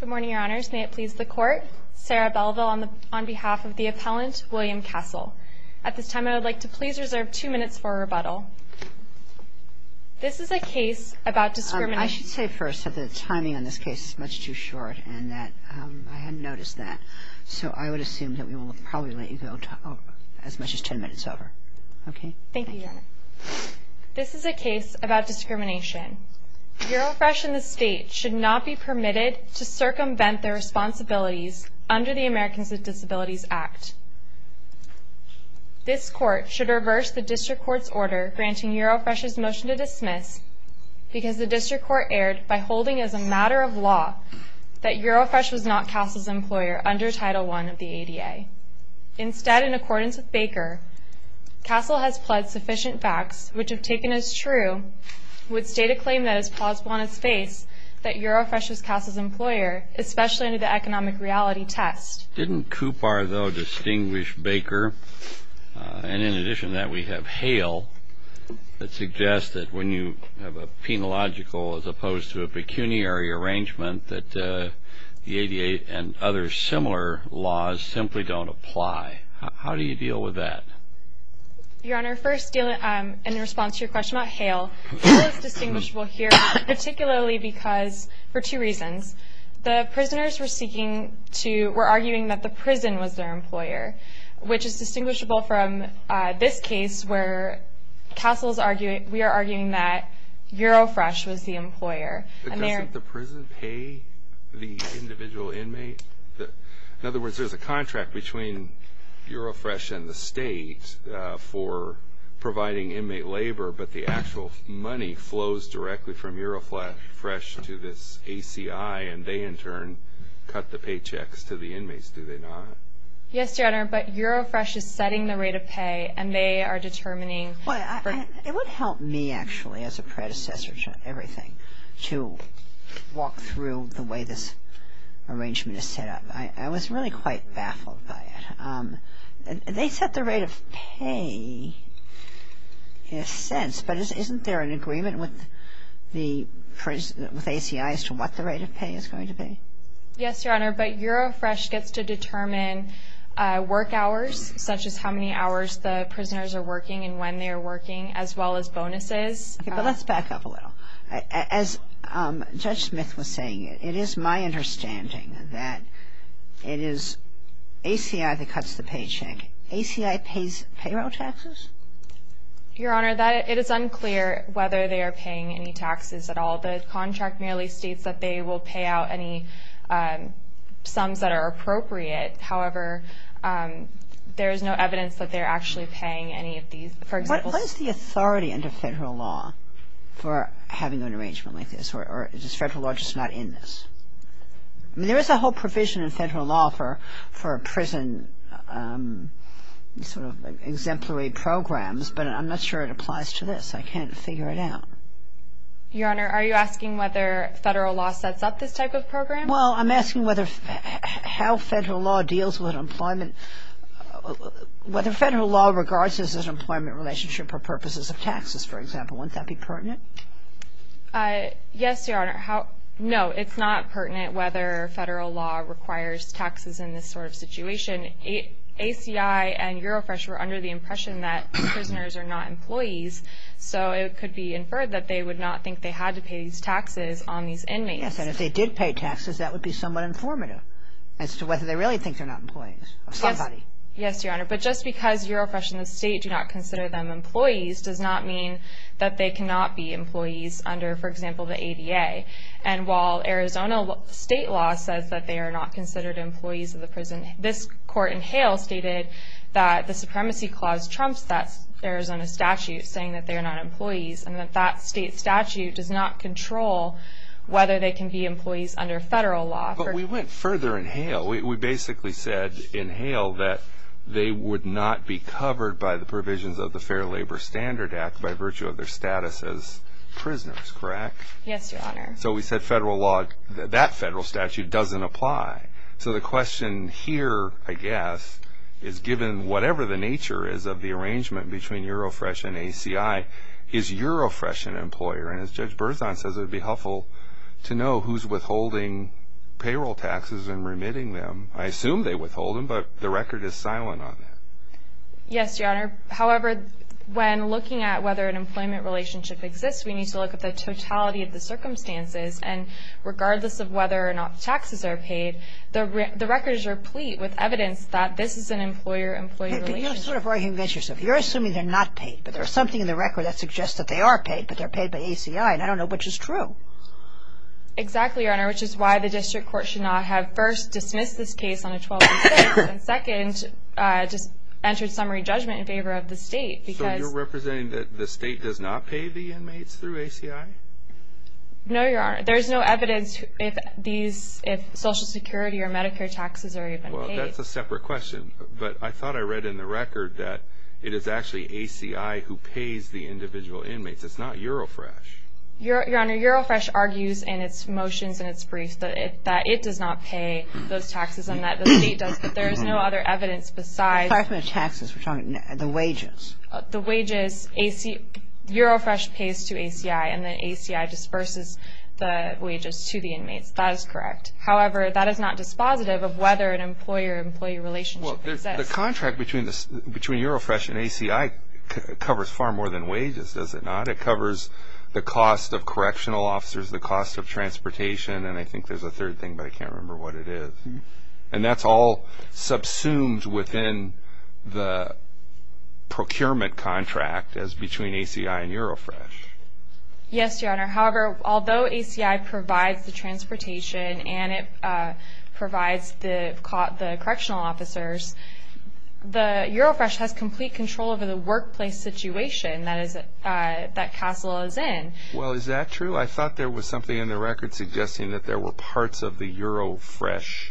Good morning, Your Honors. May it please the Court, Sarah Belleville on behalf of the appellant, William Castle. At this time, I would like to please reserve two minutes for a rebuttal. This is a case about discrimination. I should say first that the timing on this case is much too short and that I hadn't noticed that, so I would assume that we will probably let you go as much as ten minutes over. Okay? Thank you, Your Honor. This is a case about discrimination. Eurofresh and the State should not be permitted to circumvent their responsibilities under the Americans with Disabilities Act. This Court should reverse the District Court's order granting Eurofresh's motion to dismiss because the District Court erred by holding as a matter of law that Eurofresh was not Castle's employer under Title I of the ADA. Instead, in accordance with Baker, Castle has pled sufficient facts which, if taken as true, would state a claim that is plausible on its face that Eurofresh was Castle's employer, especially under the economic reality test. Didn't Kupar, though, distinguish Baker? And in addition to that, we have Hale that suggests that when you have a penological as opposed to a pecuniary arrangement that the ADA and other similar laws simply don't apply. How do you deal with that? Your Honor, first in response to your question about Hale, Hale is distinguishable here, particularly because for two reasons. The prisoners were arguing that the prison was their employer, which is distinguishable from this case where Castle is arguing that Eurofresh was the employer. Doesn't the prison pay the individual inmate? In other words, there's a contract between Eurofresh and the state for providing inmate labor, but the actual money flows directly from Eurofresh to this ACI, and they, in turn, cut the paychecks to the inmates, do they not? Yes, Your Honor, but Eurofresh is setting the rate of pay, and they are determining. It would help me, actually, as a predecessor to everything, to walk through the way this arrangement is set up. I was really quite baffled by it. They set the rate of pay in a sense, but isn't there an agreement with ACI as to what the rate of pay is going to be? Yes, Your Honor, but Eurofresh gets to determine work hours, such as how many hours the prisoners are working and when they are working, as well as bonuses. Okay, but let's back up a little. As Judge Smith was saying, it is my understanding that it is ACI that cuts the paycheck. ACI pays payroll taxes? Your Honor, it is unclear whether they are paying any taxes at all. The contract merely states that they will pay out any sums that are appropriate. However, there is no evidence that they are actually paying any of these. What is the authority under federal law for having an arrangement like this, or is federal law just not in this? There is a whole provision in federal law for prison exemplary programs, but I'm not sure it applies to this. I can't figure it out. Your Honor, are you asking whether federal law sets up this type of program? Well, I'm asking how federal law deals with employment, whether federal law regards this as an employment relationship for purposes of taxes, for example. Wouldn't that be pertinent? Yes, Your Honor. No, it's not pertinent whether federal law requires taxes in this sort of situation. ACI and Eurofresh were under the impression that prisoners are not employees, so it could be inferred that they would not think they had to pay these taxes on these inmates. Yes, and if they did pay taxes, that would be somewhat informative as to whether they really think they're not employees of somebody. Yes, Your Honor, but just because Eurofresh and the state do not consider them employees does not mean that they cannot be employees under, for example, the ADA. And while Arizona state law says that they are not considered employees of the prison, this court in Hale stated that the Supremacy Clause trumps that Arizona statute saying that they are not employees and that that state statute does not control whether they can be employees under federal law. But we went further in Hale. We basically said in Hale that they would not be covered by the provisions of the Fair Labor Standard Act by virtue of their status as prisoners, correct? Yes, Your Honor. So we said federal law, that federal statute, doesn't apply. So the question here, I guess, is given whatever the nature is of the arrangement between Eurofresh and ACI, is Eurofresh an employer? And as Judge Berzon says, it would be helpful to know who's withholding payroll taxes and remitting them. I assume they withhold them, but the record is silent on that. Yes, Your Honor. However, when looking at whether an employment relationship exists, we need to look at the totality of the circumstances. And regardless of whether or not the taxes are paid, the record is replete with evidence that this is an employer-employee relationship. But you're sort of arguing against yourself. You're assuming they're not paid, but there's something in the record that suggests that they are paid, but they're paid by ACI, and I don't know which is true. Exactly, Your Honor, which is why the district court should not have first dismissed this case on a 12-6, and second, just entered summary judgment in favor of the state because – So you're representing that the state does not pay the inmates through ACI? No, Your Honor. There's no evidence if these – if Social Security or Medicare taxes are even paid. Well, that's a separate question. But I thought I read in the record that it is actually ACI who pays the individual inmates. It's not Eurofresh. Your Honor, Eurofresh argues in its motions and its briefs that it does not pay those taxes and that the state does, but there is no other evidence besides – Taxes. We're talking the wages. The wages. Eurofresh pays to ACI, and then ACI disperses the wages to the inmates. That is correct. However, that is not dispositive of whether an employer-employee relationship exists. Well, the contract between Eurofresh and ACI covers far more than wages, does it not? It covers the cost of correctional officers, the cost of transportation, and I think there's a third thing, but I can't remember what it is. And that's all subsumed within the procurement contract as between ACI and Eurofresh. Yes, Your Honor. However, although ACI provides the transportation and it provides the correctional officers, the Eurofresh has complete control over the workplace situation that Castle is in. Well, is that true? I thought there was something in the record suggesting that there were parts of the Eurofresh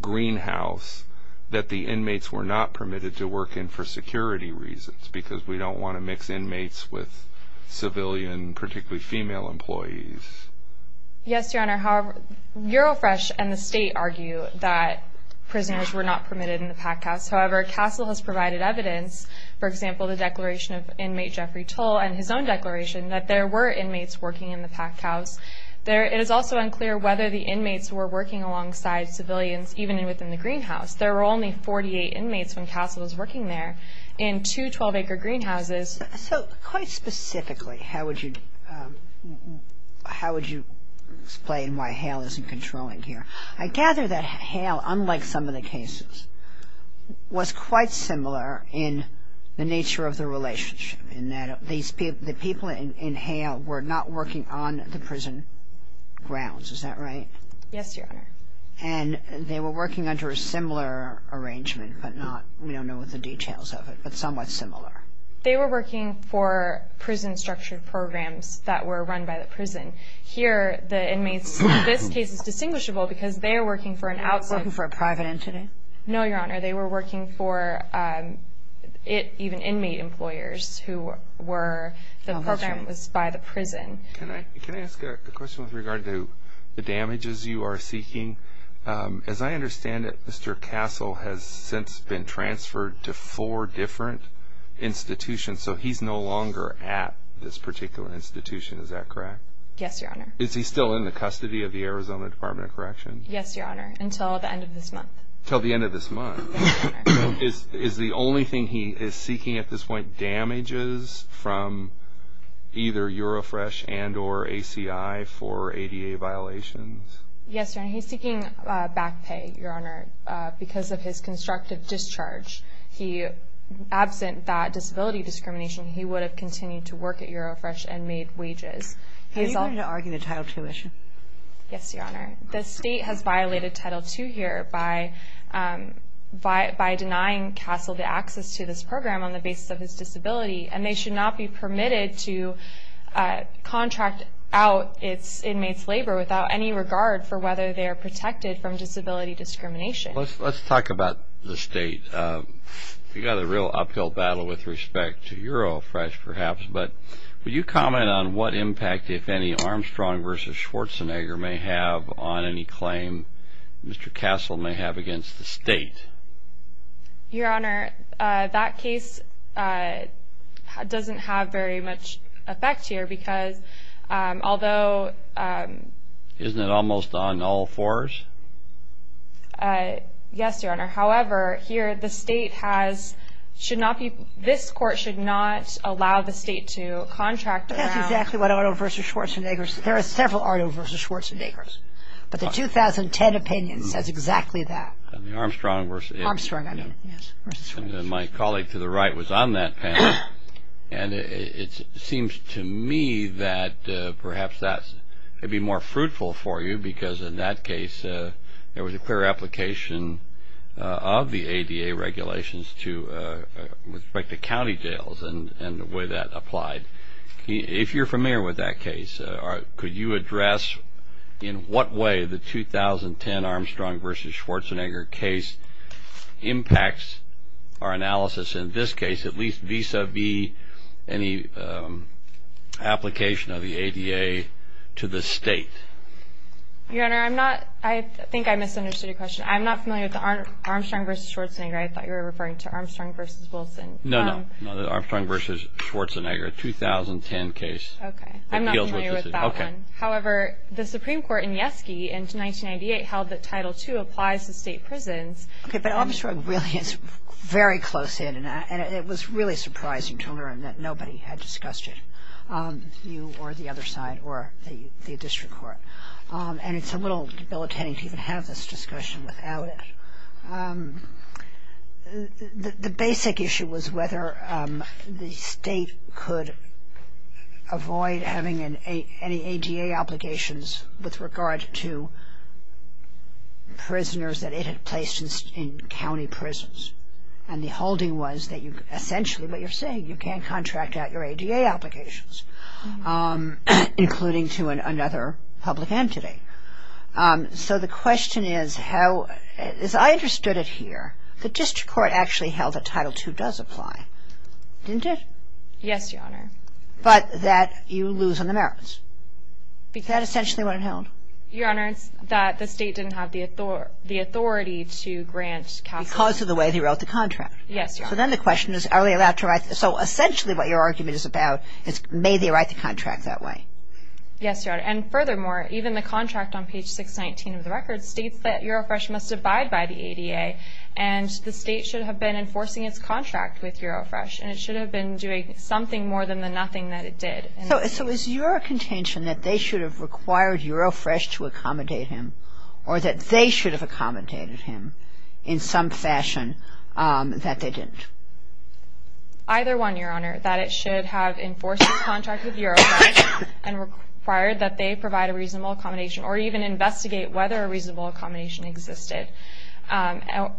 greenhouse that the inmates were not permitted to work in for security reasons because we don't want to mix inmates with civilian, particularly female employees. Yes, Your Honor. However, Eurofresh and the state argue that prisoners were not permitted in the packhouse. However, Castle has provided evidence, for example, the declaration of inmate Jeffrey Tull and his own declaration that there were inmates working in the packhouse. It is also unclear whether the inmates were working alongside civilians even within the greenhouse. There were only 48 inmates when Castle was working there in two 12-acre greenhouses. So quite specifically, how would you explain why Hale isn't controlling here? I gather that Hale, unlike some of the cases, was quite similar in the nature of the relationship in that the people in Hale were not working on the prison grounds. Is that right? Yes, Your Honor. And they were working under a similar arrangement, but we don't know the details of it, but somewhat similar. They were working for prison-structured programs that were run by the prison. Here, the inmates in this case is distinguishable because they are working for an outside. Working for a private entity? No, Your Honor. They were working for even inmate employers. The program was by the prison. Can I ask a question with regard to the damages you are seeking? As I understand it, Mr. Castle has since been transferred to four different institutions, so he's no longer at this particular institution. Is that correct? Yes, Your Honor. Is he still in the custody of the Arizona Department of Corrections? Yes, Your Honor, until the end of this month. Until the end of this month? Yes, Your Honor. Is the only thing he is seeking at this point damages from either Eurofresh and or ACI for ADA violations? Yes, Your Honor. He's seeking back pay, Your Honor, because of his constructive discharge. Absent that disability discrimination, he would have continued to work at Eurofresh and made wages. Are you going to argue the Title II issue? Yes, Your Honor. The state has violated Title II here by denying Castle the access to this program on the basis of his disability, and they should not be permitted to contract out its inmates' labor without any regard for whether they are protected from disability discrimination. Let's talk about the state. We've got a real uphill battle with respect to Eurofresh, perhaps, but will you comment on what impact, if any, Armstrong v. Schwarzenegger may have on any claim Mr. Castle may have against the state? Your Honor, that case doesn't have very much effect here because although... Isn't it almost on all fours? Yes, Your Honor. However, here the state has, should not be, this court should not allow the state to contract around... That's exactly what Arno v. Schwarzenegger, there are several Arno v. Schwarzenegger, but the 2010 opinion says exactly that. Armstrong v.... Armstrong, I mean, yes, v. Schwarzenegger. My colleague to the right was on that panel, and it seems to me that perhaps that could be more fruitful for you because in that case there was a clear application of the ADA regulations with respect to county jails and the way that applied. If you're familiar with that case, could you address in what way the 2010 Armstrong v. Schwarzenegger case impacts our analysis in this case, at least vis-à-vis any application of the ADA to the state? Your Honor, I'm not, I think I misunderstood your question. I'm not familiar with the Armstrong v. Schwarzenegger. I thought you were referring to Armstrong v. Wilson. No, no, no, the Armstrong v. Schwarzenegger, 2010 case. Okay, I'm not familiar with that one. However, the Supreme Court in Yeski in 1998 held that Title II applies to state prisons. Okay, but Armstrong really is very close in, and it was really surprising to learn that nobody had discussed it, you or the other side or the district court. And it's a little debilitating to even have this discussion without it. The basic issue was whether the state could avoid having any ADA obligations with regard to prisoners that it had placed in county prisons. And the holding was that you, essentially what you're saying, you can't contract out your ADA applications, including to another public entity. So the question is how, as I understood it here, the district court actually held that Title II does apply, didn't it? Yes, Your Honor. But that you lose on the merits. Is that essentially what it held? Your Honor, it's that the state didn't have the authority to grant capital. Because of the way they wrote the contract. Yes, Your Honor. So then the question is are they allowed to write the contract. So essentially what your argument is about is may they write the contract that way. Yes, Your Honor. And furthermore, even the contract on page 619 of the record states that Eurofresh must abide by the ADA, and the state should have been enforcing its contract with Eurofresh, and it should have been doing something more than the nothing that it did. So is your contention that they should have required Eurofresh to accommodate him or that they should have accommodated him in some fashion that they didn't? Either one, Your Honor, that it should have enforced its contract with Eurofresh and required that they provide a reasonable accommodation or even investigate whether a reasonable accommodation existed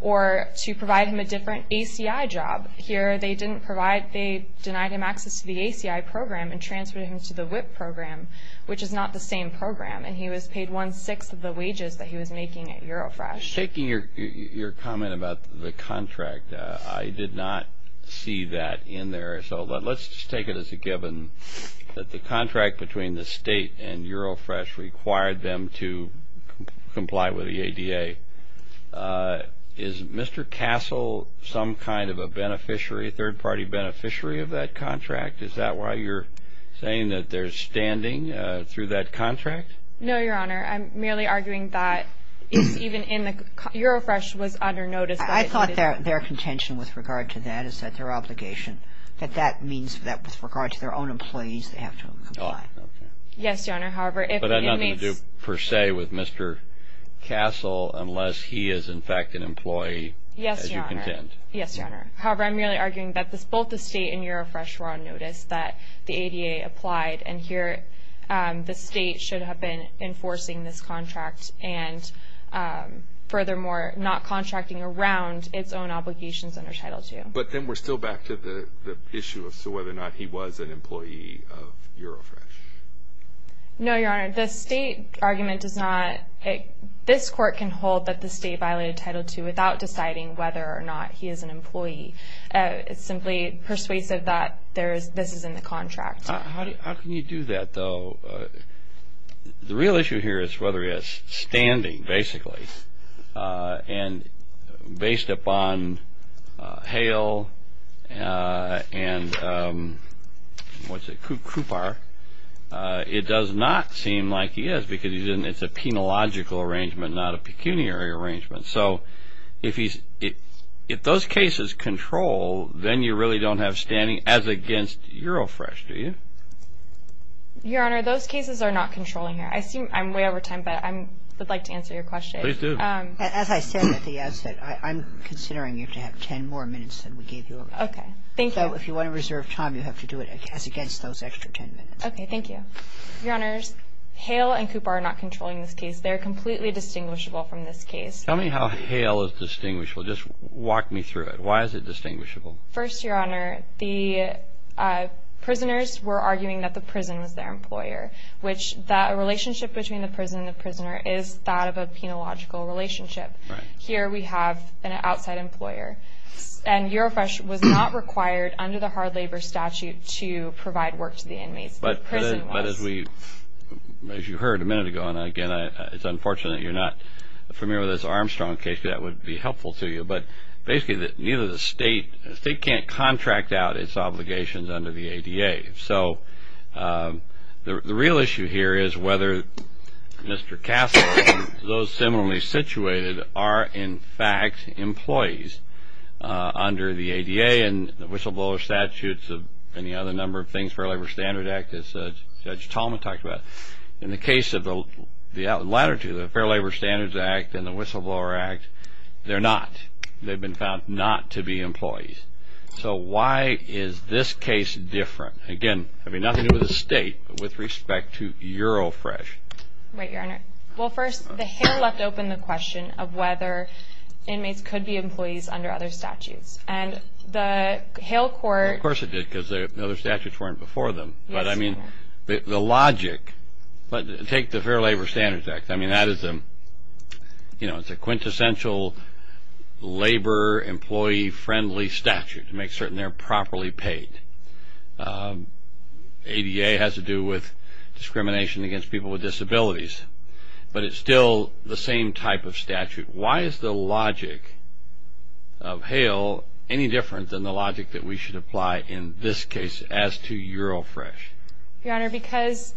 or to provide him a different ACI job. Here they didn't provide, they denied him access to the ACI program and transferred him to the WIP program, which is not the same program. And he was paid one-sixth of the wages that he was making at Eurofresh. Taking your comment about the contract, I did not see that in there. So let's just take it as a given that the contract between the state and Eurofresh required them to comply with the ADA. Is Mr. Castle some kind of a beneficiary, a third-party beneficiary of that contract? Is that why you're saying that they're standing through that contract? No, Your Honor. I'm merely arguing that it's even in the, Eurofresh was under notice. I thought their contention with regard to that is that their obligation, that that means that with regard to their own employees, they have to comply. Yes, Your Honor. But it has nothing to do per se with Mr. Castle unless he is in fact an employee, as you contend. Yes, Your Honor. However, I'm merely arguing that both the state and Eurofresh were on notice that the ADA applied, and here the state should have been enforcing this contract and furthermore not contracting around its own obligations under Title II. But then we're still back to the issue of whether or not he was an employee of Eurofresh. No, Your Honor. The state argument does not, this court can hold that the state violated Title II without deciding whether or not he is an employee. It's simply persuasive that this is in the contract. How can you do that, though? The real issue here is whether he has standing, basically. And based upon Hale and, what's it, Kupar, it does not seem like he is because it's a penological arrangement, not a pecuniary arrangement. So if those cases control, then you really don't have standing as against Eurofresh, do you? Your Honor, those cases are not controlling here. I seem, I'm way over time, but I would like to answer your question. Please do. As I said at the outset, I'm considering you to have ten more minutes than we gave you. Okay. Thank you. So if you want to reserve time, you have to do it as against those extra ten minutes. Okay. Thank you. Your Honors, Hale and Kupar are not controlling this case. They are completely distinguishable from this case. Tell me how Hale is distinguishable. Just walk me through it. Why is it distinguishable? First, Your Honor, the prisoners were arguing that the prison was their employer, which that relationship between the prison and the prisoner is that of a penological relationship. Right. Here we have an outside employer. And Eurofresh was not required under the hard labor statute to provide work to the inmates. The prison was. But as you heard a minute ago, and, again, it's unfortunate you're not familiar with this Armstrong case, that would be helpful to you, but basically neither the state, the state can't contract out its obligations under the ADA. So the real issue here is whether Mr. Castle and those similarly situated are, in fact, employees under the ADA and the whistleblower statutes and the other number of things, Fair Labor Standards Act, as Judge Tallman talked about. In the case of the latter two, the Fair Labor Standards Act and the Whistleblower Act, they're not. They've been found not to be employees. So why is this case different? Again, I mean, nothing to do with the state, but with respect to Eurofresh. Right, Your Honor. Well, first, the Hale left open the question of whether inmates could be employees under other statutes. And the Hale court. Of course it did, because the other statutes weren't before them. But, I mean, the logic, take the Fair Labor Standards Act. I mean, that is a, you know, it's a quintessential labor-employee-friendly statute to make certain they're properly paid. ADA has to do with discrimination against people with disabilities. Why is the logic of Hale any different than the logic that we should apply in this case as to Eurofresh? Your Honor, because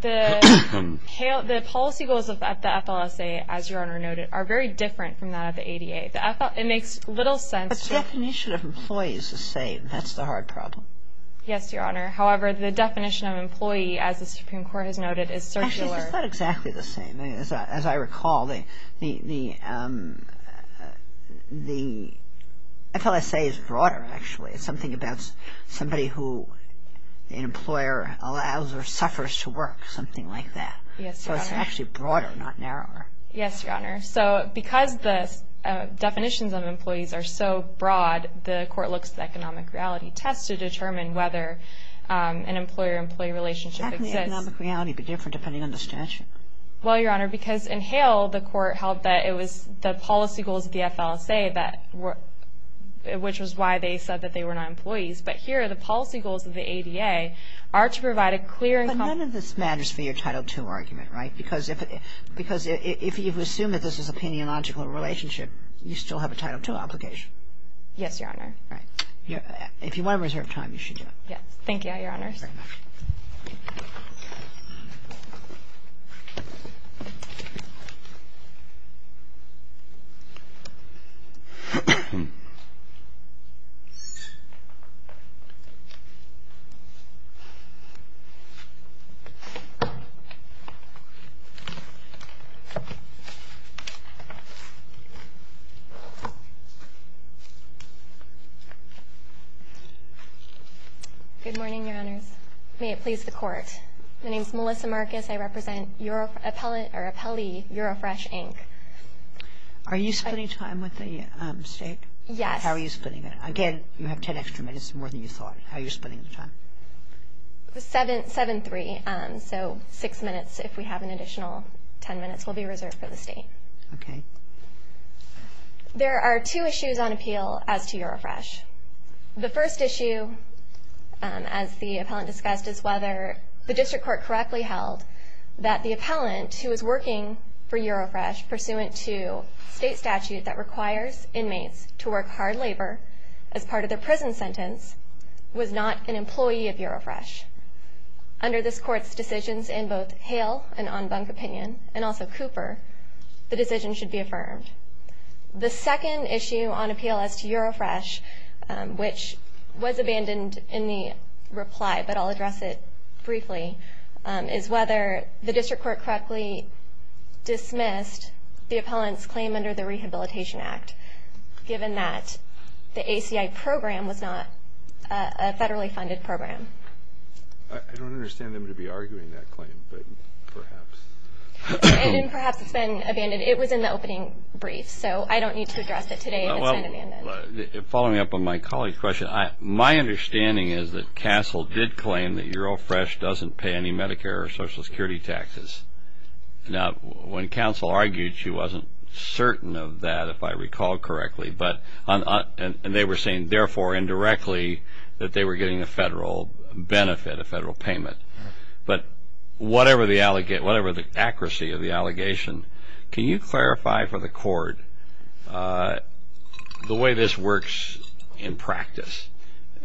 the policy goals of the FLSA, as Your Honor noted, are very different from that of the ADA. It makes little sense. The definition of employee is the same. That's the hard problem. Yes, Your Honor. However, the definition of employee, as the Supreme Court has noted, is circular. Actually, it's not exactly the same. As I recall, the FLSA is broader, actually. It's something about somebody who an employer allows or suffers to work, something like that. Yes, Your Honor. So it's actually broader, not narrower. Yes, Your Honor. So because the definitions of employees are so broad, the court looks at economic reality tests to determine whether an employer-employee relationship exists. How can the economic reality be different depending on the statute? Well, Your Honor, because in Hale, the court held that it was the policy goals of the FLSA that were which was why they said that they were not employees. But here, the policy goals of the ADA are to provide a clear and comprehensive But none of this matters for your Title II argument, right? Because if you assume that this is an opinionological relationship, you still have a Title II obligation. Yes, Your Honor. Right. If you want to reserve time, you should do it. Yes. Thank you, Your Honors. Thank you, Your Honors. Good morning, Your Honors. May it please the Court. My name is Melissa Marcus. I represent Appellee Eurofresh, Inc. Are you splitting time with the State? Yes. How are you splitting it? Again, you have 10 extra minutes, more than you thought. How are you splitting the time? Seven-three. So six minutes, if we have an additional 10 minutes, will be reserved for the State. Okay. There are two issues on appeal as to Eurofresh. The first issue, as the appellant discussed, is whether the District Court correctly held that the appellant who is working for Eurofresh, pursuant to State statute that requires inmates to work hard labor as part of their prison sentence, was not an employee of Eurofresh. Under this Court's decisions in both Hale, an en banc opinion, and also Cooper, the decision should be affirmed. The second issue on appeal as to Eurofresh, which was abandoned in the reply, but I'll address it briefly, is whether the District Court correctly dismissed the appellant's claim under the Rehabilitation Act, given that the ACI program was not a federally funded program. I don't understand them to be arguing that claim, but perhaps. And perhaps it's been abandoned. It was in the opening brief, so I don't need to address it today if it's been abandoned. Following up on my colleague's question, my understanding is that CASEL did claim that Eurofresh doesn't pay any Medicare or Social Security taxes. Now, when CASEL argued, she wasn't certain of that, if I recall correctly, and they were saying, therefore, indirectly, that they were getting a federal benefit, a federal payment. But whatever the accuracy of the allegation, can you clarify for the Court the way this works in practice?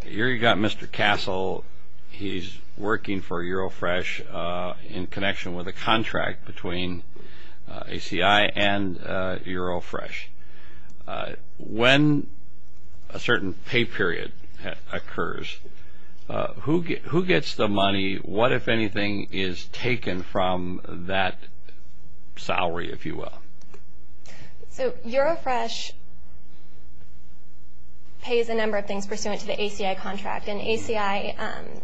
Here you've got Mr. CASEL. He's working for Eurofresh in connection with a contract between ACI and Eurofresh. When a certain pay period occurs, who gets the money? What, if anything, is taken from that salary, if you will? So Eurofresh pays a number of things pursuant to the ACI contract, and ACI,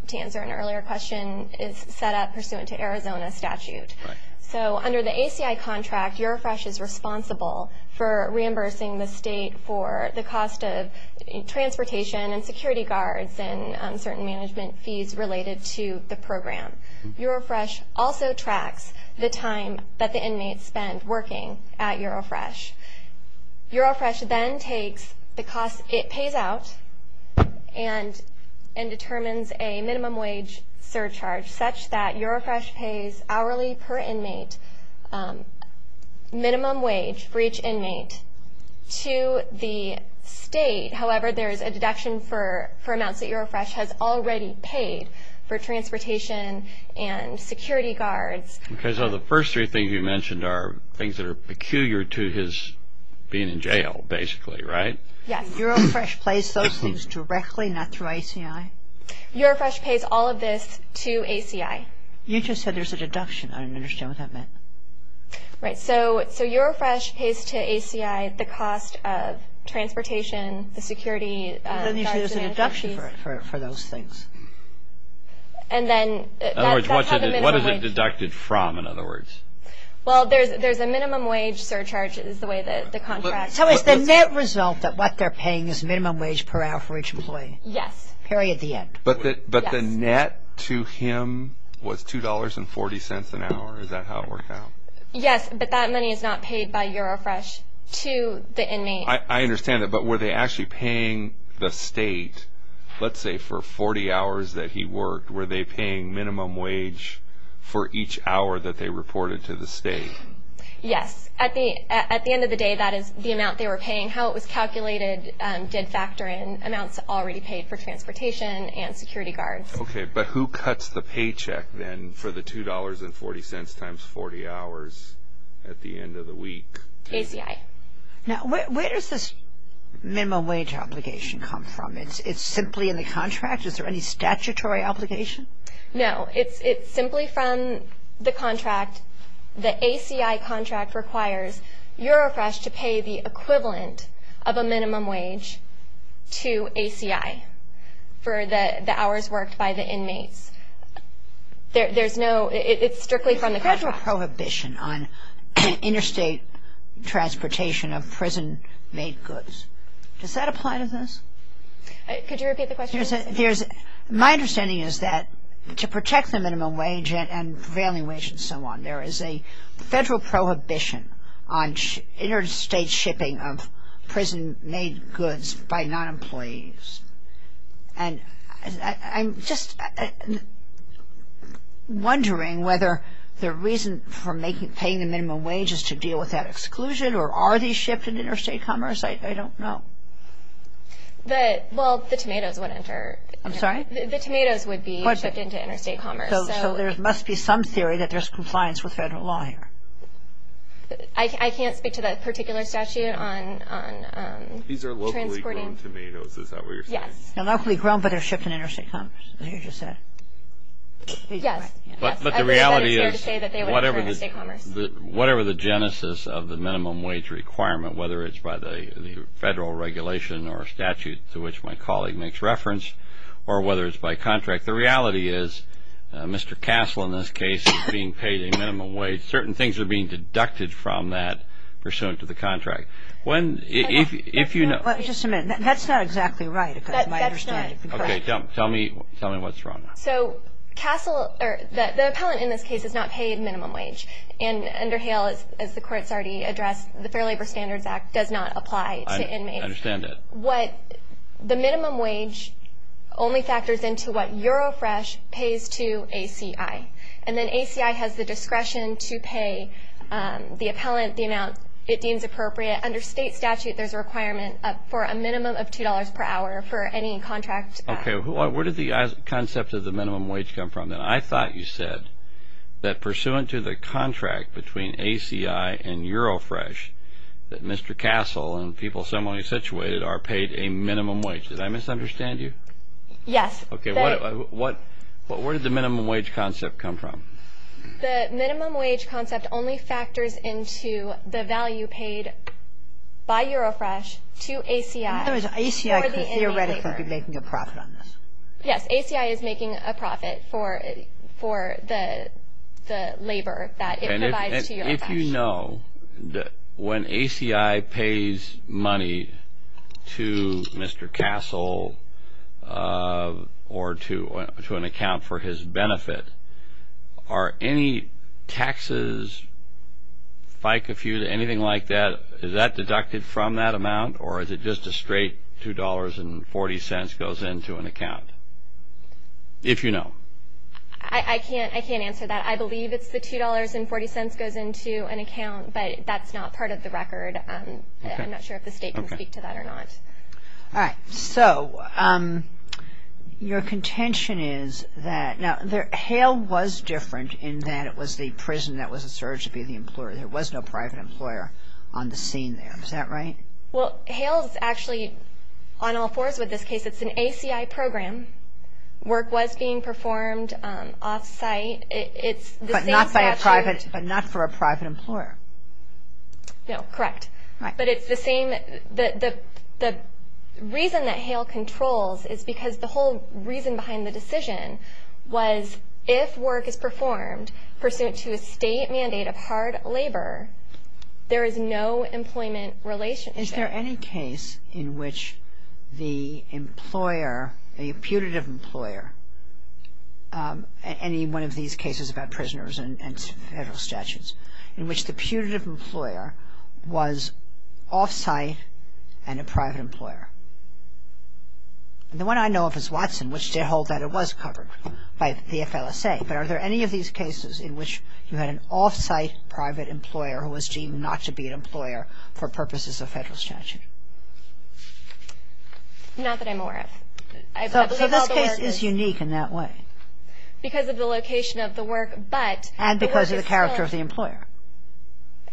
to answer an earlier question, is set up pursuant to Arizona statute. So under the ACI contract, Eurofresh is responsible for reimbursing the state for the cost of transportation and security guards and certain management fees related to the program. Eurofresh also tracks the time that the inmates spend working at Eurofresh. Eurofresh then takes the cost it pays out and determines a minimum wage surcharge such that Eurofresh pays hourly per inmate minimum wage for each inmate to the state. However, there is a deduction for amounts that Eurofresh has already paid for transportation and security guards. Okay, so the first three things you mentioned are things that are peculiar to his being in jail, basically, right? Yes. Eurofresh pays those things directly, not through ACI? Eurofresh pays all of this to ACI. You just said there's a deduction. I don't understand what that meant. Right, so Eurofresh pays to ACI the cost of transportation, the security guards and management fees. You said there's a deduction for those things. In other words, what is it deducted from, in other words? Well, there's a minimum wage surcharge is the way that the contract – So it's the net result that what they're paying is minimum wage per hour for each employee? Yes. Period, the end. But the net to him was $2.40 an hour? Is that how it worked out? Yes, but that money is not paid by Eurofresh to the inmate. I understand that, but were they actually paying the state, let's say for 40 hours that he worked, were they paying minimum wage for each hour that they reported to the state? Yes. At the end of the day, that is the amount they were paying. How it was calculated did factor in amounts already paid for transportation and security guards. Okay, but who cuts the paycheck then for the $2.40 times 40 hours at the end of the week? ACI. Now, where does this minimum wage obligation come from? It's simply in the contract? Is there any statutory obligation? No, it's simply from the contract. The ACI contract requires Eurofresh to pay the equivalent of a minimum wage to ACI for the hours worked by the inmates. There's no, it's strictly from the contract. There's a federal prohibition on interstate transportation of prison-made goods. Does that apply to this? Could you repeat the question? My understanding is that to protect the minimum wage and prevailing wage and so on, there is a federal prohibition on interstate shipping of prison-made goods by non-employees. And I'm just wondering whether the reason for paying the minimum wage is to deal with that exclusion or are these shipped in interstate commerce? I don't know. Well, the tomatoes would enter. I'm sorry? The tomatoes would be shipped into interstate commerce. So there must be some theory that there's compliance with federal law here. I can't speak to that particular statute on transporting. These are locally grown tomatoes, is that what you're saying? Yes. They're locally grown, but they're shipped in interstate commerce, like you just said. Yes. But the reality is whatever the genesis of the minimum wage requirement, whether it's by the federal regulation or statute to which my colleague makes reference or whether it's by contract, the reality is Mr. Castle, in this case, is being paid a minimum wage. Certain things are being deducted from that pursuant to the contract. If you know— Just a minute. That's not exactly right, if I understand you correctly. Okay. Tell me what's wrong. So Castle, or the appellant in this case, is not paid minimum wage. And under Hale, as the court's already addressed, the Fair Labor Standards Act does not apply to inmates. I understand that. The minimum wage only factors into what Eurofresh pays to ACI. And then ACI has the discretion to pay the appellant the amount it deems appropriate. Under state statute, there's a requirement for a minimum of $2 per hour for any contract. Okay. Where did the concept of the minimum wage come from then? I thought you said that pursuant to the contract between ACI and Eurofresh, that Mr. Castle and people similarly situated are paid a minimum wage. Did I misunderstand you? Yes. Okay. Where did the minimum wage concept come from? The minimum wage concept only factors into the value paid by Eurofresh to ACI. In other words, ACI could theoretically be making a profit on this. Yes. ACI is making a profit for the labor that it provides to Eurofresh. And if you know that when ACI pays money to Mr. Castle or to an account for his benefit, are any taxes, FICA fees, anything like that, is that deducted from that amount or is it just a straight $2.40 goes into an account, if you know? I can't answer that. I believe it's the $2.40 goes into an account, but that's not part of the record. I'm not sure if the state can speak to that or not. All right. So your contention is that now HALE was different in that it was the prison that was asserted to be the employer. There was no private employer on the scene there. Is that right? Well, HALE is actually on all fours with this case. It's an ACI program. Work was being performed off-site. But not for a private employer. No, correct. But it's the same. The reason that HALE controls is because the whole reason behind the decision was if work is performed pursuant to a state mandate of hard labor, there is no employment relationship. Is there any case in which the employer, a putative employer, any one of these cases about prisoners and federal statutes, in which the putative employer was off-site and a private employer? The one I know of is Watson, which I hold that it was covered by the FLSA. But are there any of these cases in which you had an off-site private employer who was deemed not to be an employer for purposes of federal statute? Not that I'm aware of. I believe all the work is. So this case is unique in that way. Because of the location of the work, but the work is still. And because of the character of the employer.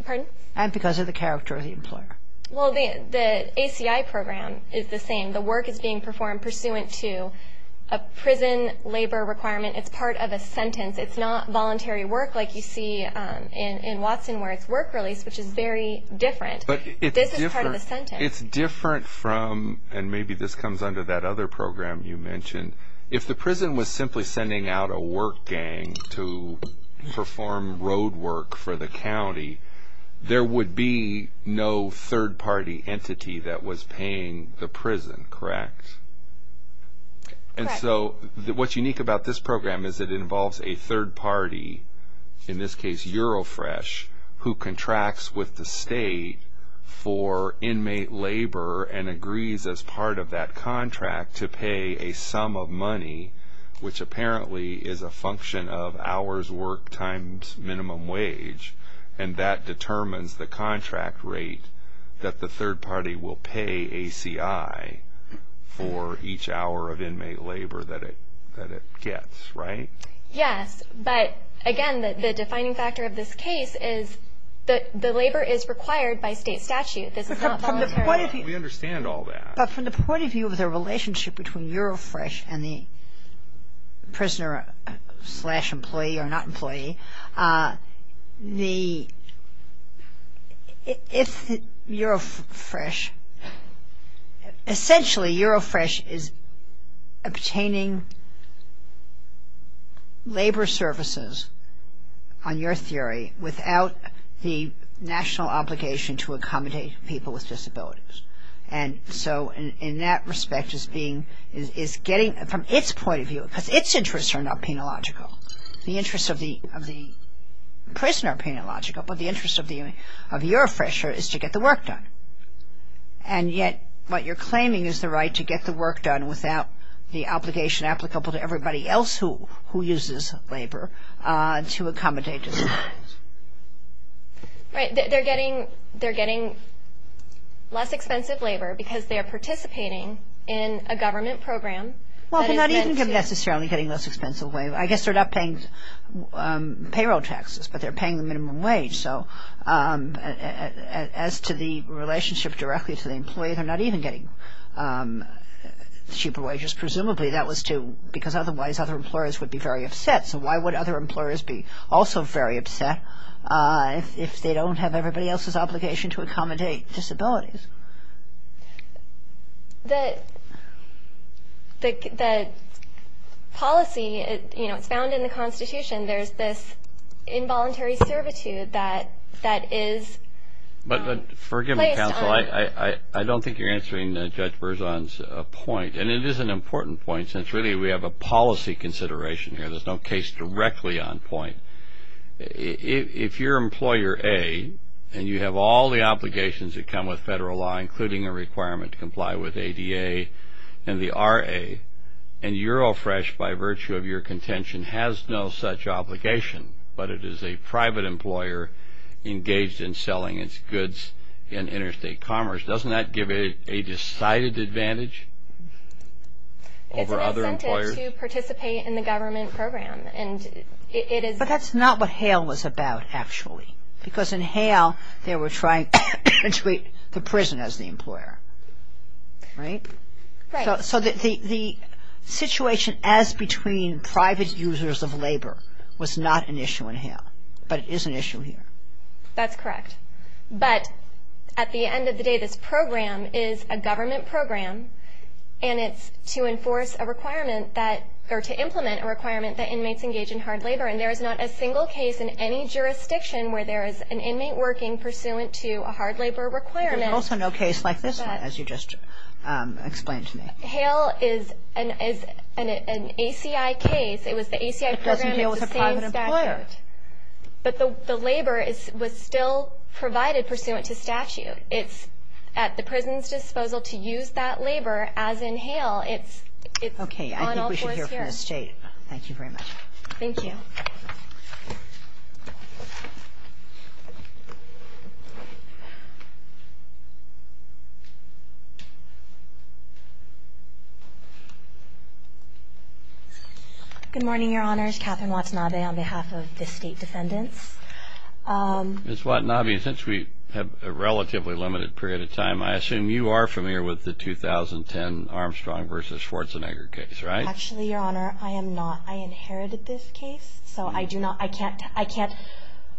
Pardon? And because of the character of the employer. Well, the ACI program is the same. The work is being performed pursuant to a prison labor requirement. It's part of a sentence. It's not voluntary work like you see in Watson where it's work-release, which is very different. This is part of a sentence. It's different from, and maybe this comes under that other program you mentioned, if the prison was simply sending out a work gang to perform road work for the county, there would be no third-party entity that was paying the prison, correct? Correct. So what's unique about this program is it involves a third party, in this case Eurofresh, who contracts with the state for inmate labor and agrees as part of that contract to pay a sum of money, which apparently is a function of hours worked times minimum wage, and that determines the contract rate that the third party will pay ACI for each hour of inmate labor that it gets, right? Yes. But, again, the defining factor of this case is that the labor is required by state statute. This is not voluntary. We understand all that. But from the point of view of the relationship between Eurofresh and the prisoner-slash-employee, or not employee, if Eurofresh, essentially Eurofresh is obtaining labor services, on your theory, without the national obligation to accommodate people with disabilities. And so in that respect, from its point of view, because its interests are not penological, the interests of the prisoner are penological, but the interest of Eurofresher is to get the work done. And yet what you're claiming is the right to get the work done without the obligation applicable to everybody else who uses labor to accommodate disabilities. Right. They're getting less expensive labor because they are participating in a government program. Well, they're not even necessarily getting less expensive labor. I guess they're not paying payroll taxes, but they're paying the minimum wage. So as to the relationship directly to the employee, they're not even getting cheaper wages. Presumably that was because otherwise other employers would be very upset. So why would other employers be also very upset if they don't have everybody else's obligation to accommodate disabilities? The policy, you know, it's found in the Constitution. There's this involuntary servitude that is placed on. But forgive me, counsel, I don't think you're answering Judge Berzon's point. And it is an important point since really we have a policy consideration here. There's no case directly on point. If you're Employer A and you have all the obligations that come with federal law, including a requirement to comply with ADA and the RA, and Eurofresh by virtue of your contention has no such obligation, but it is a private employer engaged in selling its goods in interstate commerce, doesn't that give it a decided advantage over other employers? To participate in the government program. But that's not what HALE was about actually. Because in HALE they were trying to treat the prison as the employer, right? Right. So the situation as between private users of labor was not an issue in HALE, but it is an issue here. That's correct. But at the end of the day, this program is a government program and it's to enforce a requirement that or to implement a requirement that inmates engage in hard labor. And there is not a single case in any jurisdiction where there is an inmate working pursuant to a hard labor requirement. There's also no case like this one, as you just explained to me. HALE is an ACI case. It was the ACI program. It doesn't deal with a private employer. But the labor was still provided pursuant to statute. It's at the prison's disposal to use that labor as in HALE. It's on all fours here. Okay, I think we should hear from Ms. Jade. Thank you very much. Thank you. Good morning, Your Honors. Katherine Watanabe on behalf of the state defendants. Ms. Watanabe, since we have a relatively limited period of time, I assume you are familiar with the 2010 Armstrong v. Schwarzenegger case, right? Actually, Your Honor, I am not. I inherited this case. So I can't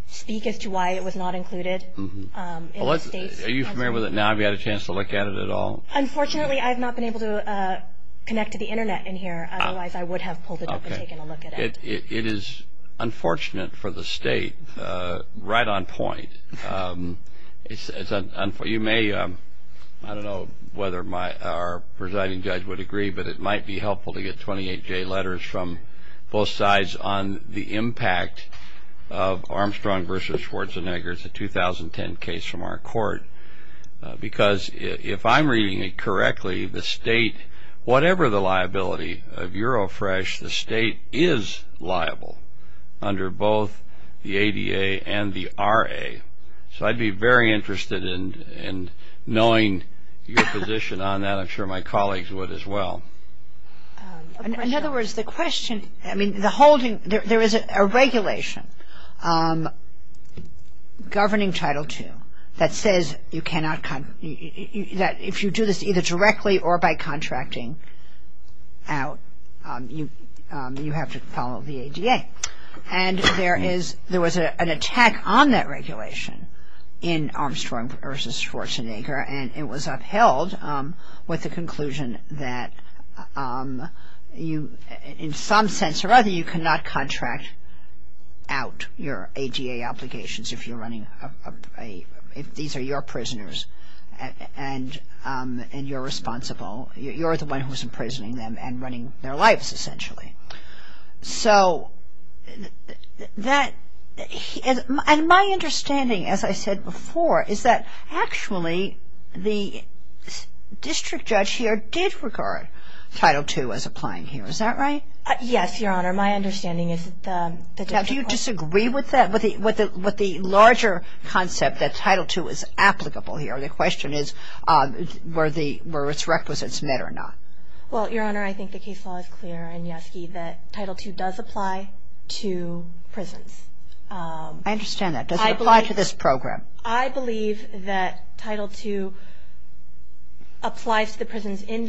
speak as to why it was not included. Are you familiar with it now? Have you had a chance to look at it at all? Unfortunately, I have not been able to connect to the Internet in here. Otherwise, I would have pulled it up and taken a look at it. It is unfortunate for the state, right on point. You may, I don't know whether our presiding judge would agree, but it might be helpful to get 28-J letters from both sides on the impact of Armstrong v. Schwarzenegger, the 2010 case from our court. Because if I'm reading it correctly, the state, whatever the liability of Eurofresh, the state is liable under both the ADA and the RA. So I'd be very interested in knowing your position on that. I'm sure my colleagues would as well. In other words, the question, I mean, the holding, there is a regulation governing Title II that says you cannot, that if you do this either directly or by contracting out, you have to follow the ADA. And there is, there was an attack on that regulation in Armstrong v. Schwarzenegger, and it was upheld with the conclusion that you, in some sense or other, you cannot contract out your ADA obligations if you're running, if these are your prisoners and you're responsible, you're the one who's imprisoning them and running their lives, essentially. So that, and my understanding, as I said before, is that actually the district judge here did regard Title II as applying here. Is that right? Yes, Your Honor. My understanding is that the district court. I disagree with that, with the larger concept that Title II is applicable here. The question is were its requisites met or not. Well, Your Honor, I think the case law is clear, and, Yeske, that Title II does apply to prisons. I understand that. Does it apply to this program? I believe that Title II applies to the prisons in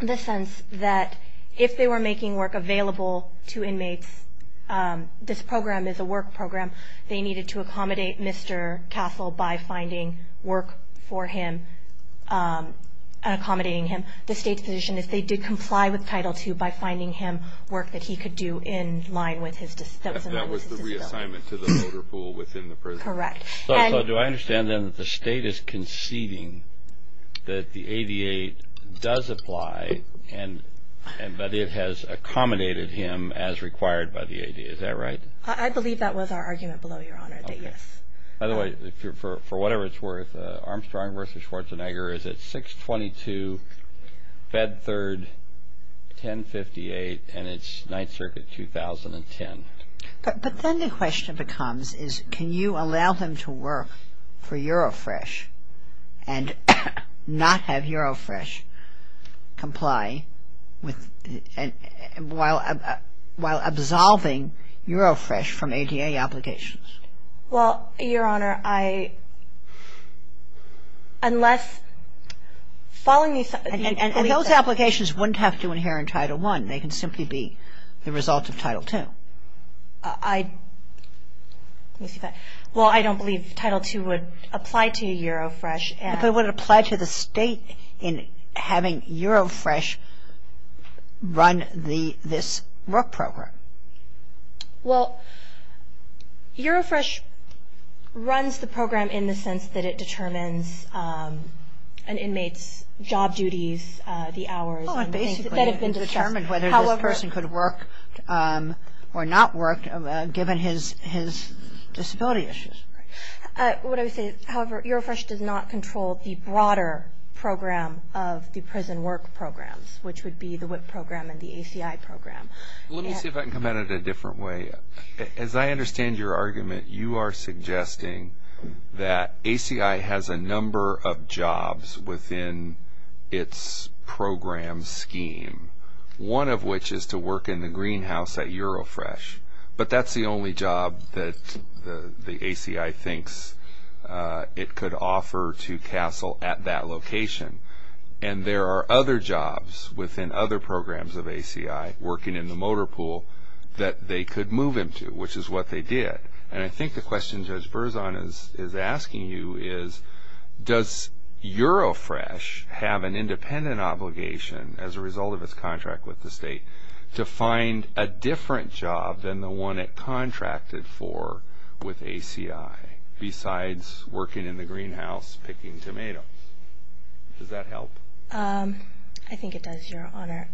the sense that if they were making work available to inmates, this program is a work program, they needed to accommodate Mr. Castle by finding work for him, accommodating him. The state's position is they did comply with Title II by finding him work that he could do in line with his disability. That was the reassignment to the voter pool within the prison. Correct. So do I understand, then, that the state is conceding that the ADA does apply, but it has accommodated him as required by the ADA. Is that right? I believe that was our argument below, Your Honor, that yes. By the way, for whatever it's worth, Armstrong v. Schwarzenegger is at 622 Bedford, 1058, and it's Ninth Circuit, 2010. But then the question becomes is can you allow them to work for Eurofresh and not have Eurofresh comply while absolving Eurofresh from ADA obligations? Well, Your Honor, I unless following these steps And those applications wouldn't have to inherit Title I. They can simply be the result of Title II. Well, I don't believe Title II would apply to Eurofresh. But it would apply to the state in having Eurofresh run this work program. Well, Eurofresh runs the program in the sense that it determines an inmate's job duties, the hours. Oh, it basically determines whether this person could work or not work given his disability issues. What I would say is, however, Eurofresh does not control the broader program of the prison work programs, which would be the WIP program and the ACI program. Let me see if I can come at it a different way. As I understand your argument, you are suggesting that ACI has a number of jobs within its program scheme, one of which is to work in the greenhouse at Eurofresh. But that's the only job that the ACI thinks it could offer to CASEL at that location. And there are other jobs within other programs of ACI working in the motor pool that they could move into, which is what they did. And I think the question Judge Berzon is asking you is, does Eurofresh have an independent obligation as a result of its contract with the state to find a different job than the one it contracted for with ACI, besides working in the greenhouse picking tomatoes? Does that help? I think it does, Your Honor.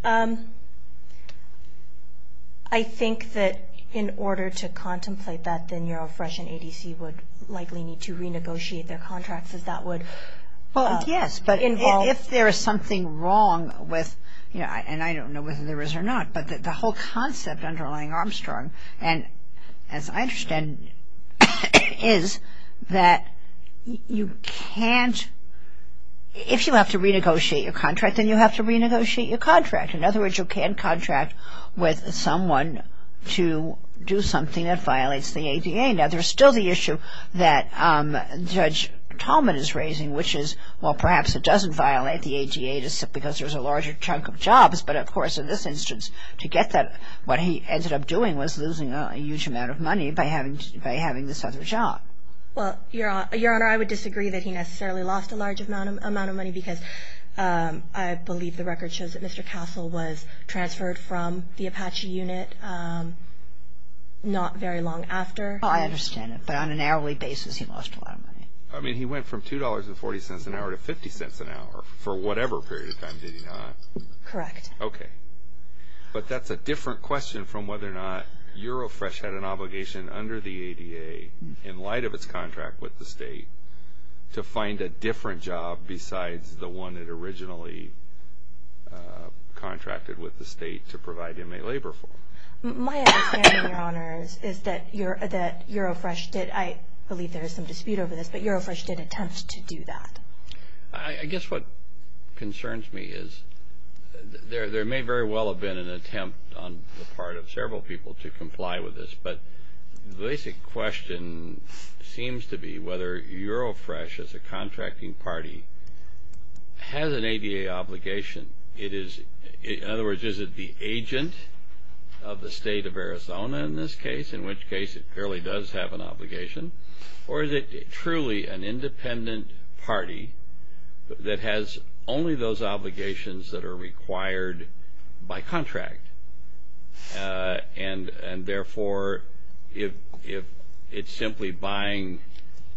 I think that in order to contemplate that, then Eurofresh and ADC would likely need to renegotiate their contracts as that would involve. Well, yes, but if there is something wrong with, and I don't know whether there is or not, but the whole concept underlying Armstrong, and as I understand, is that you can't, if you have to renegotiate your contract, then you have to renegotiate your contract. In other words, you can't contract with someone to do something that violates the ADA. Now, there's still the issue that Judge Tolman is raising, which is, well, perhaps it doesn't violate the ADA because there's a larger chunk of jobs, but, of course, in this instance, to get that, what he ended up doing was losing a huge amount of money by having this other job. Well, Your Honor, I would disagree that he necessarily lost a large amount of money because I believe the record shows that Mr. Castle was transferred from the Apache unit not very long after. I understand it, but on an hourly basis, he lost a lot of money. I mean, he went from $2.40 an hour to $0.50 an hour for whatever period of time, did he not? Correct. Okay. But that's a different question from whether or not Eurofresh had an obligation under the ADA, in light of its contract with the state, to find a different job besides the one it originally contracted with the state to provide inmate labor for. My understanding, Your Honor, is that Eurofresh did. I believe there is some dispute over this, but Eurofresh did attempt to do that. I guess what concerns me is there may very well have been an attempt on the part of several people to comply with this, but the basic question seems to be whether Eurofresh, as a contracting party, has an ADA obligation. In other words, is it the agent of the state of Arizona in this case, in which case it clearly does have an obligation, or is it truly an independent party that has only those obligations that are required by contract? And, therefore, if it's simply buying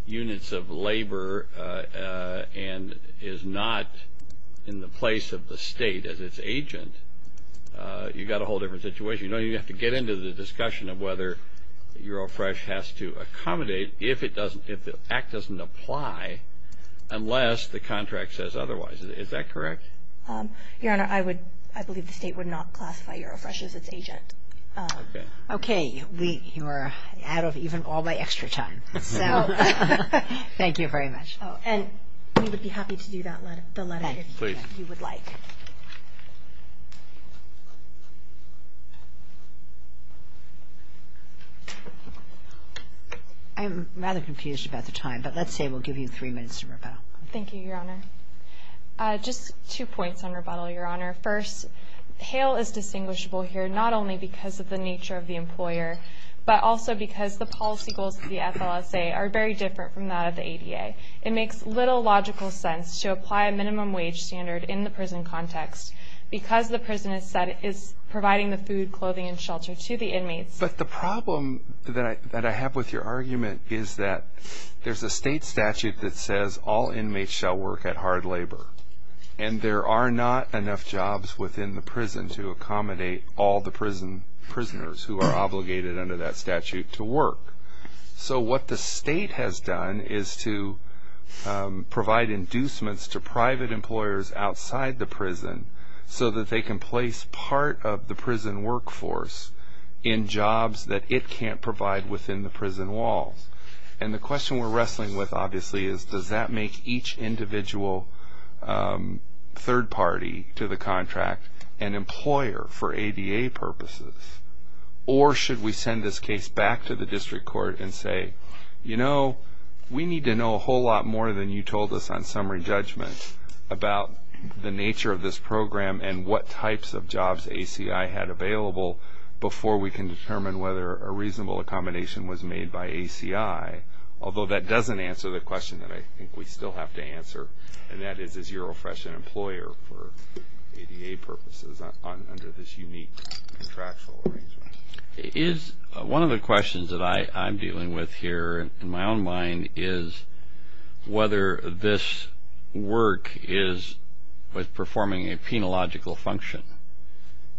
units of labor and is not in the place of the state as its agent, you've got a whole different situation. You know, you have to get into the discussion of whether Eurofresh has to accommodate if the act doesn't apply, unless the contract says otherwise. Is that correct? Your Honor, I believe the state would not classify Eurofresh as its agent. Okay. Okay. You're out of even all my extra time. Thank you very much. Oh, and we would be happy to do the letter if you would like. Please. I'm rather confused about the time, but let's say we'll give you three minutes to rebuttal. Thank you, Your Honor. Just two points on rebuttal, Your Honor. First, Hale is distinguishable here not only because of the nature of the employer, but also because the policy goals of the FLSA are very different from that of the ADA. It makes little logical sense to apply a minimum wage standard in the prison context, because the prison is providing the food, clothing, and shelter to the inmates. But the problem that I have with your argument is that there's a state statute that says all inmates shall work at hard labor, and there are not enough jobs within the prison to accommodate all the prisoners who are obligated under that statute to work. So what the state has done is to provide inducements to private employers outside the prison so that they can place part of the prison workforce in jobs that it can't provide within the prison walls. And the question we're wrestling with, obviously, is does that make each individual third party to the contract an employer for ADA purposes? Or should we send this case back to the district court and say, you know, we need to know a whole lot more than you told us on summary judgment about the nature of this program and what types of jobs ACI had available before we can determine whether a reasonable accommodation was made by ACI? Although that doesn't answer the question that I think we still have to answer, and that is, is Urofresh an employer for ADA purposes under this unique contractual arrangement? One of the questions that I'm dealing with here in my own mind is whether this work is performing a penological function.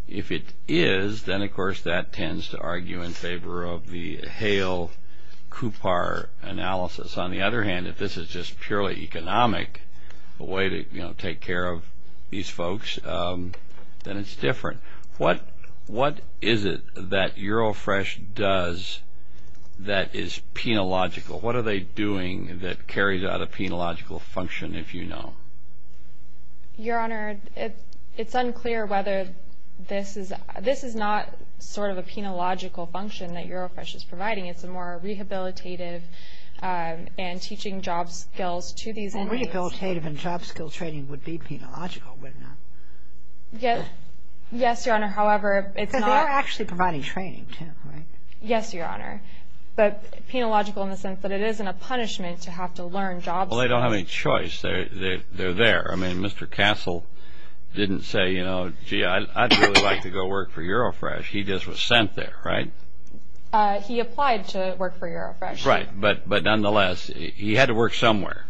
If it is, then, of course, that tends to argue in favor of the Hale-Coupar analysis. On the other hand, if this is just purely economic, a way to take care of these folks, then it's different. What is it that Urofresh does that is penological? What are they doing that carries out a penological function, if you know? Your Honor, it's unclear whether this is not sort of a penological function that Urofresh is providing. It's a more rehabilitative and teaching job skills to these inmates. Well, rehabilitative and job skills training would be penological, wouldn't it? Yes, Your Honor, however, it's not. Because they're actually providing training, too, right? Yes, Your Honor, but penological in the sense that it isn't a punishment to have to learn job skills. Well, they don't have any choice. They're there. I mean, Mr. Castle didn't say, you know, gee, I'd really like to go work for Urofresh. He just was sent there, right? He applied to work for Urofresh. Right, but nonetheless, he had to work somewhere.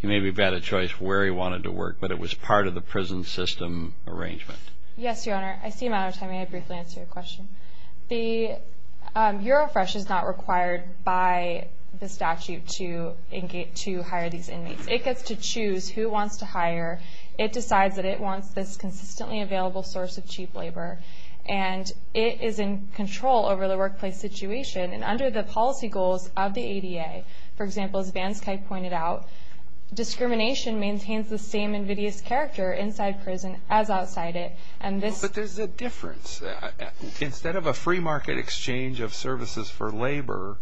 He may have had a choice where he wanted to work, but it was part of the prison system arrangement. Yes, Your Honor, I see a matter of time. May I briefly answer your question? The Urofresh is not required by the statute to hire these inmates. It gets to choose who it wants to hire. It decides that it wants this consistently available source of cheap labor, and it is in control over the workplace situation and under the policy goals of the ADA. For example, as Vansky pointed out, discrimination maintains the same invidious character inside prison as outside it. But there's a difference. Instead of a free market exchange of services for labor,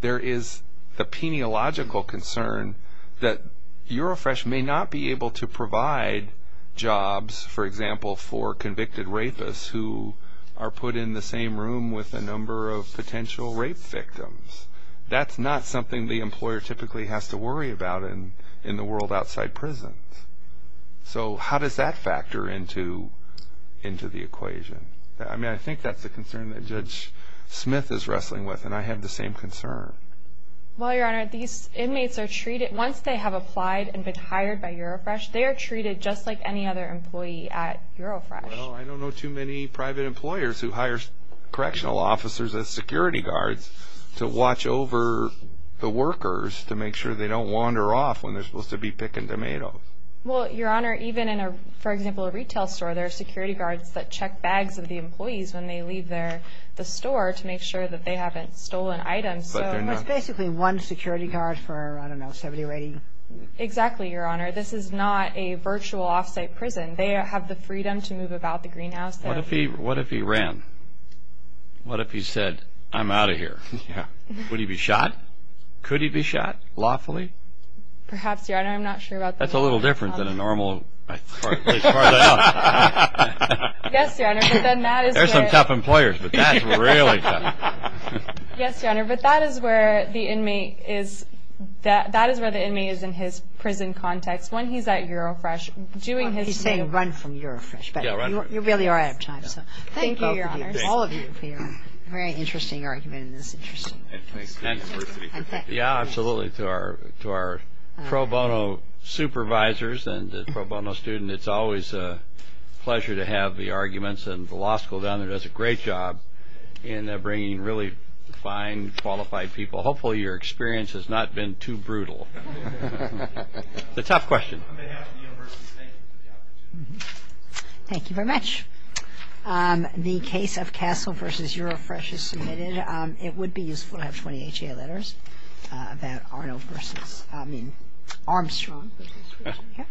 there is the peniological concern that Urofresh may not be able to provide jobs, for example, for convicted rapists who are put in the same room with a number of potential rape victims. That's not something the employer typically has to worry about in the world outside prisons. So how does that factor into the equation? I mean, I think that's a concern that Judge Smith is wrestling with, and I have the same concern. Well, Your Honor, these inmates are treated, once they have applied and been hired by Urofresh, they are treated just like any other employee at Urofresh. Well, I don't know too many private employers who hire correctional officers as security guards to watch over the workers to make sure they don't wander off when they're supposed to be picking tomatoes. Well, Your Honor, even in, for example, a retail store, there are security guards that check bags of the employees when they leave the store to make sure that they haven't stolen items. So there's basically one security guard for, I don't know, 70 or 80. Exactly, Your Honor. This is not a virtual off-site prison. They have the freedom to move about the greenhouse. What if he ran? What if he said, I'm out of here? Yeah. Would he be shot? Could he be shot lawfully? Perhaps, Your Honor. I'm not sure about that. That's a little different than a normal prison. Yes, Your Honor. There are some tough employers, but that's really tough. Yes, Your Honor, but that is where the inmate is in his prison context. When he's at Eurofresh, doing his thing. He's saying run from Eurofresh, but you really are out of time. So thank you, Your Honor, all of you, for your very interesting argument in this interesting case. Thanks. Yeah, absolutely. To our pro bono supervisors and pro bono student, it's always a pleasure to have the arguments, and the law school down there does a great job in bringing really fine, qualified people. Hopefully your experience has not been too brutal. It's a tough question. On behalf of the university, thank you for the opportunity. Thank you very much. The case of Castle v. Eurofresh is submitted. It would be useful to have 20 HA letters about Arno versus, I mean, Armstrong.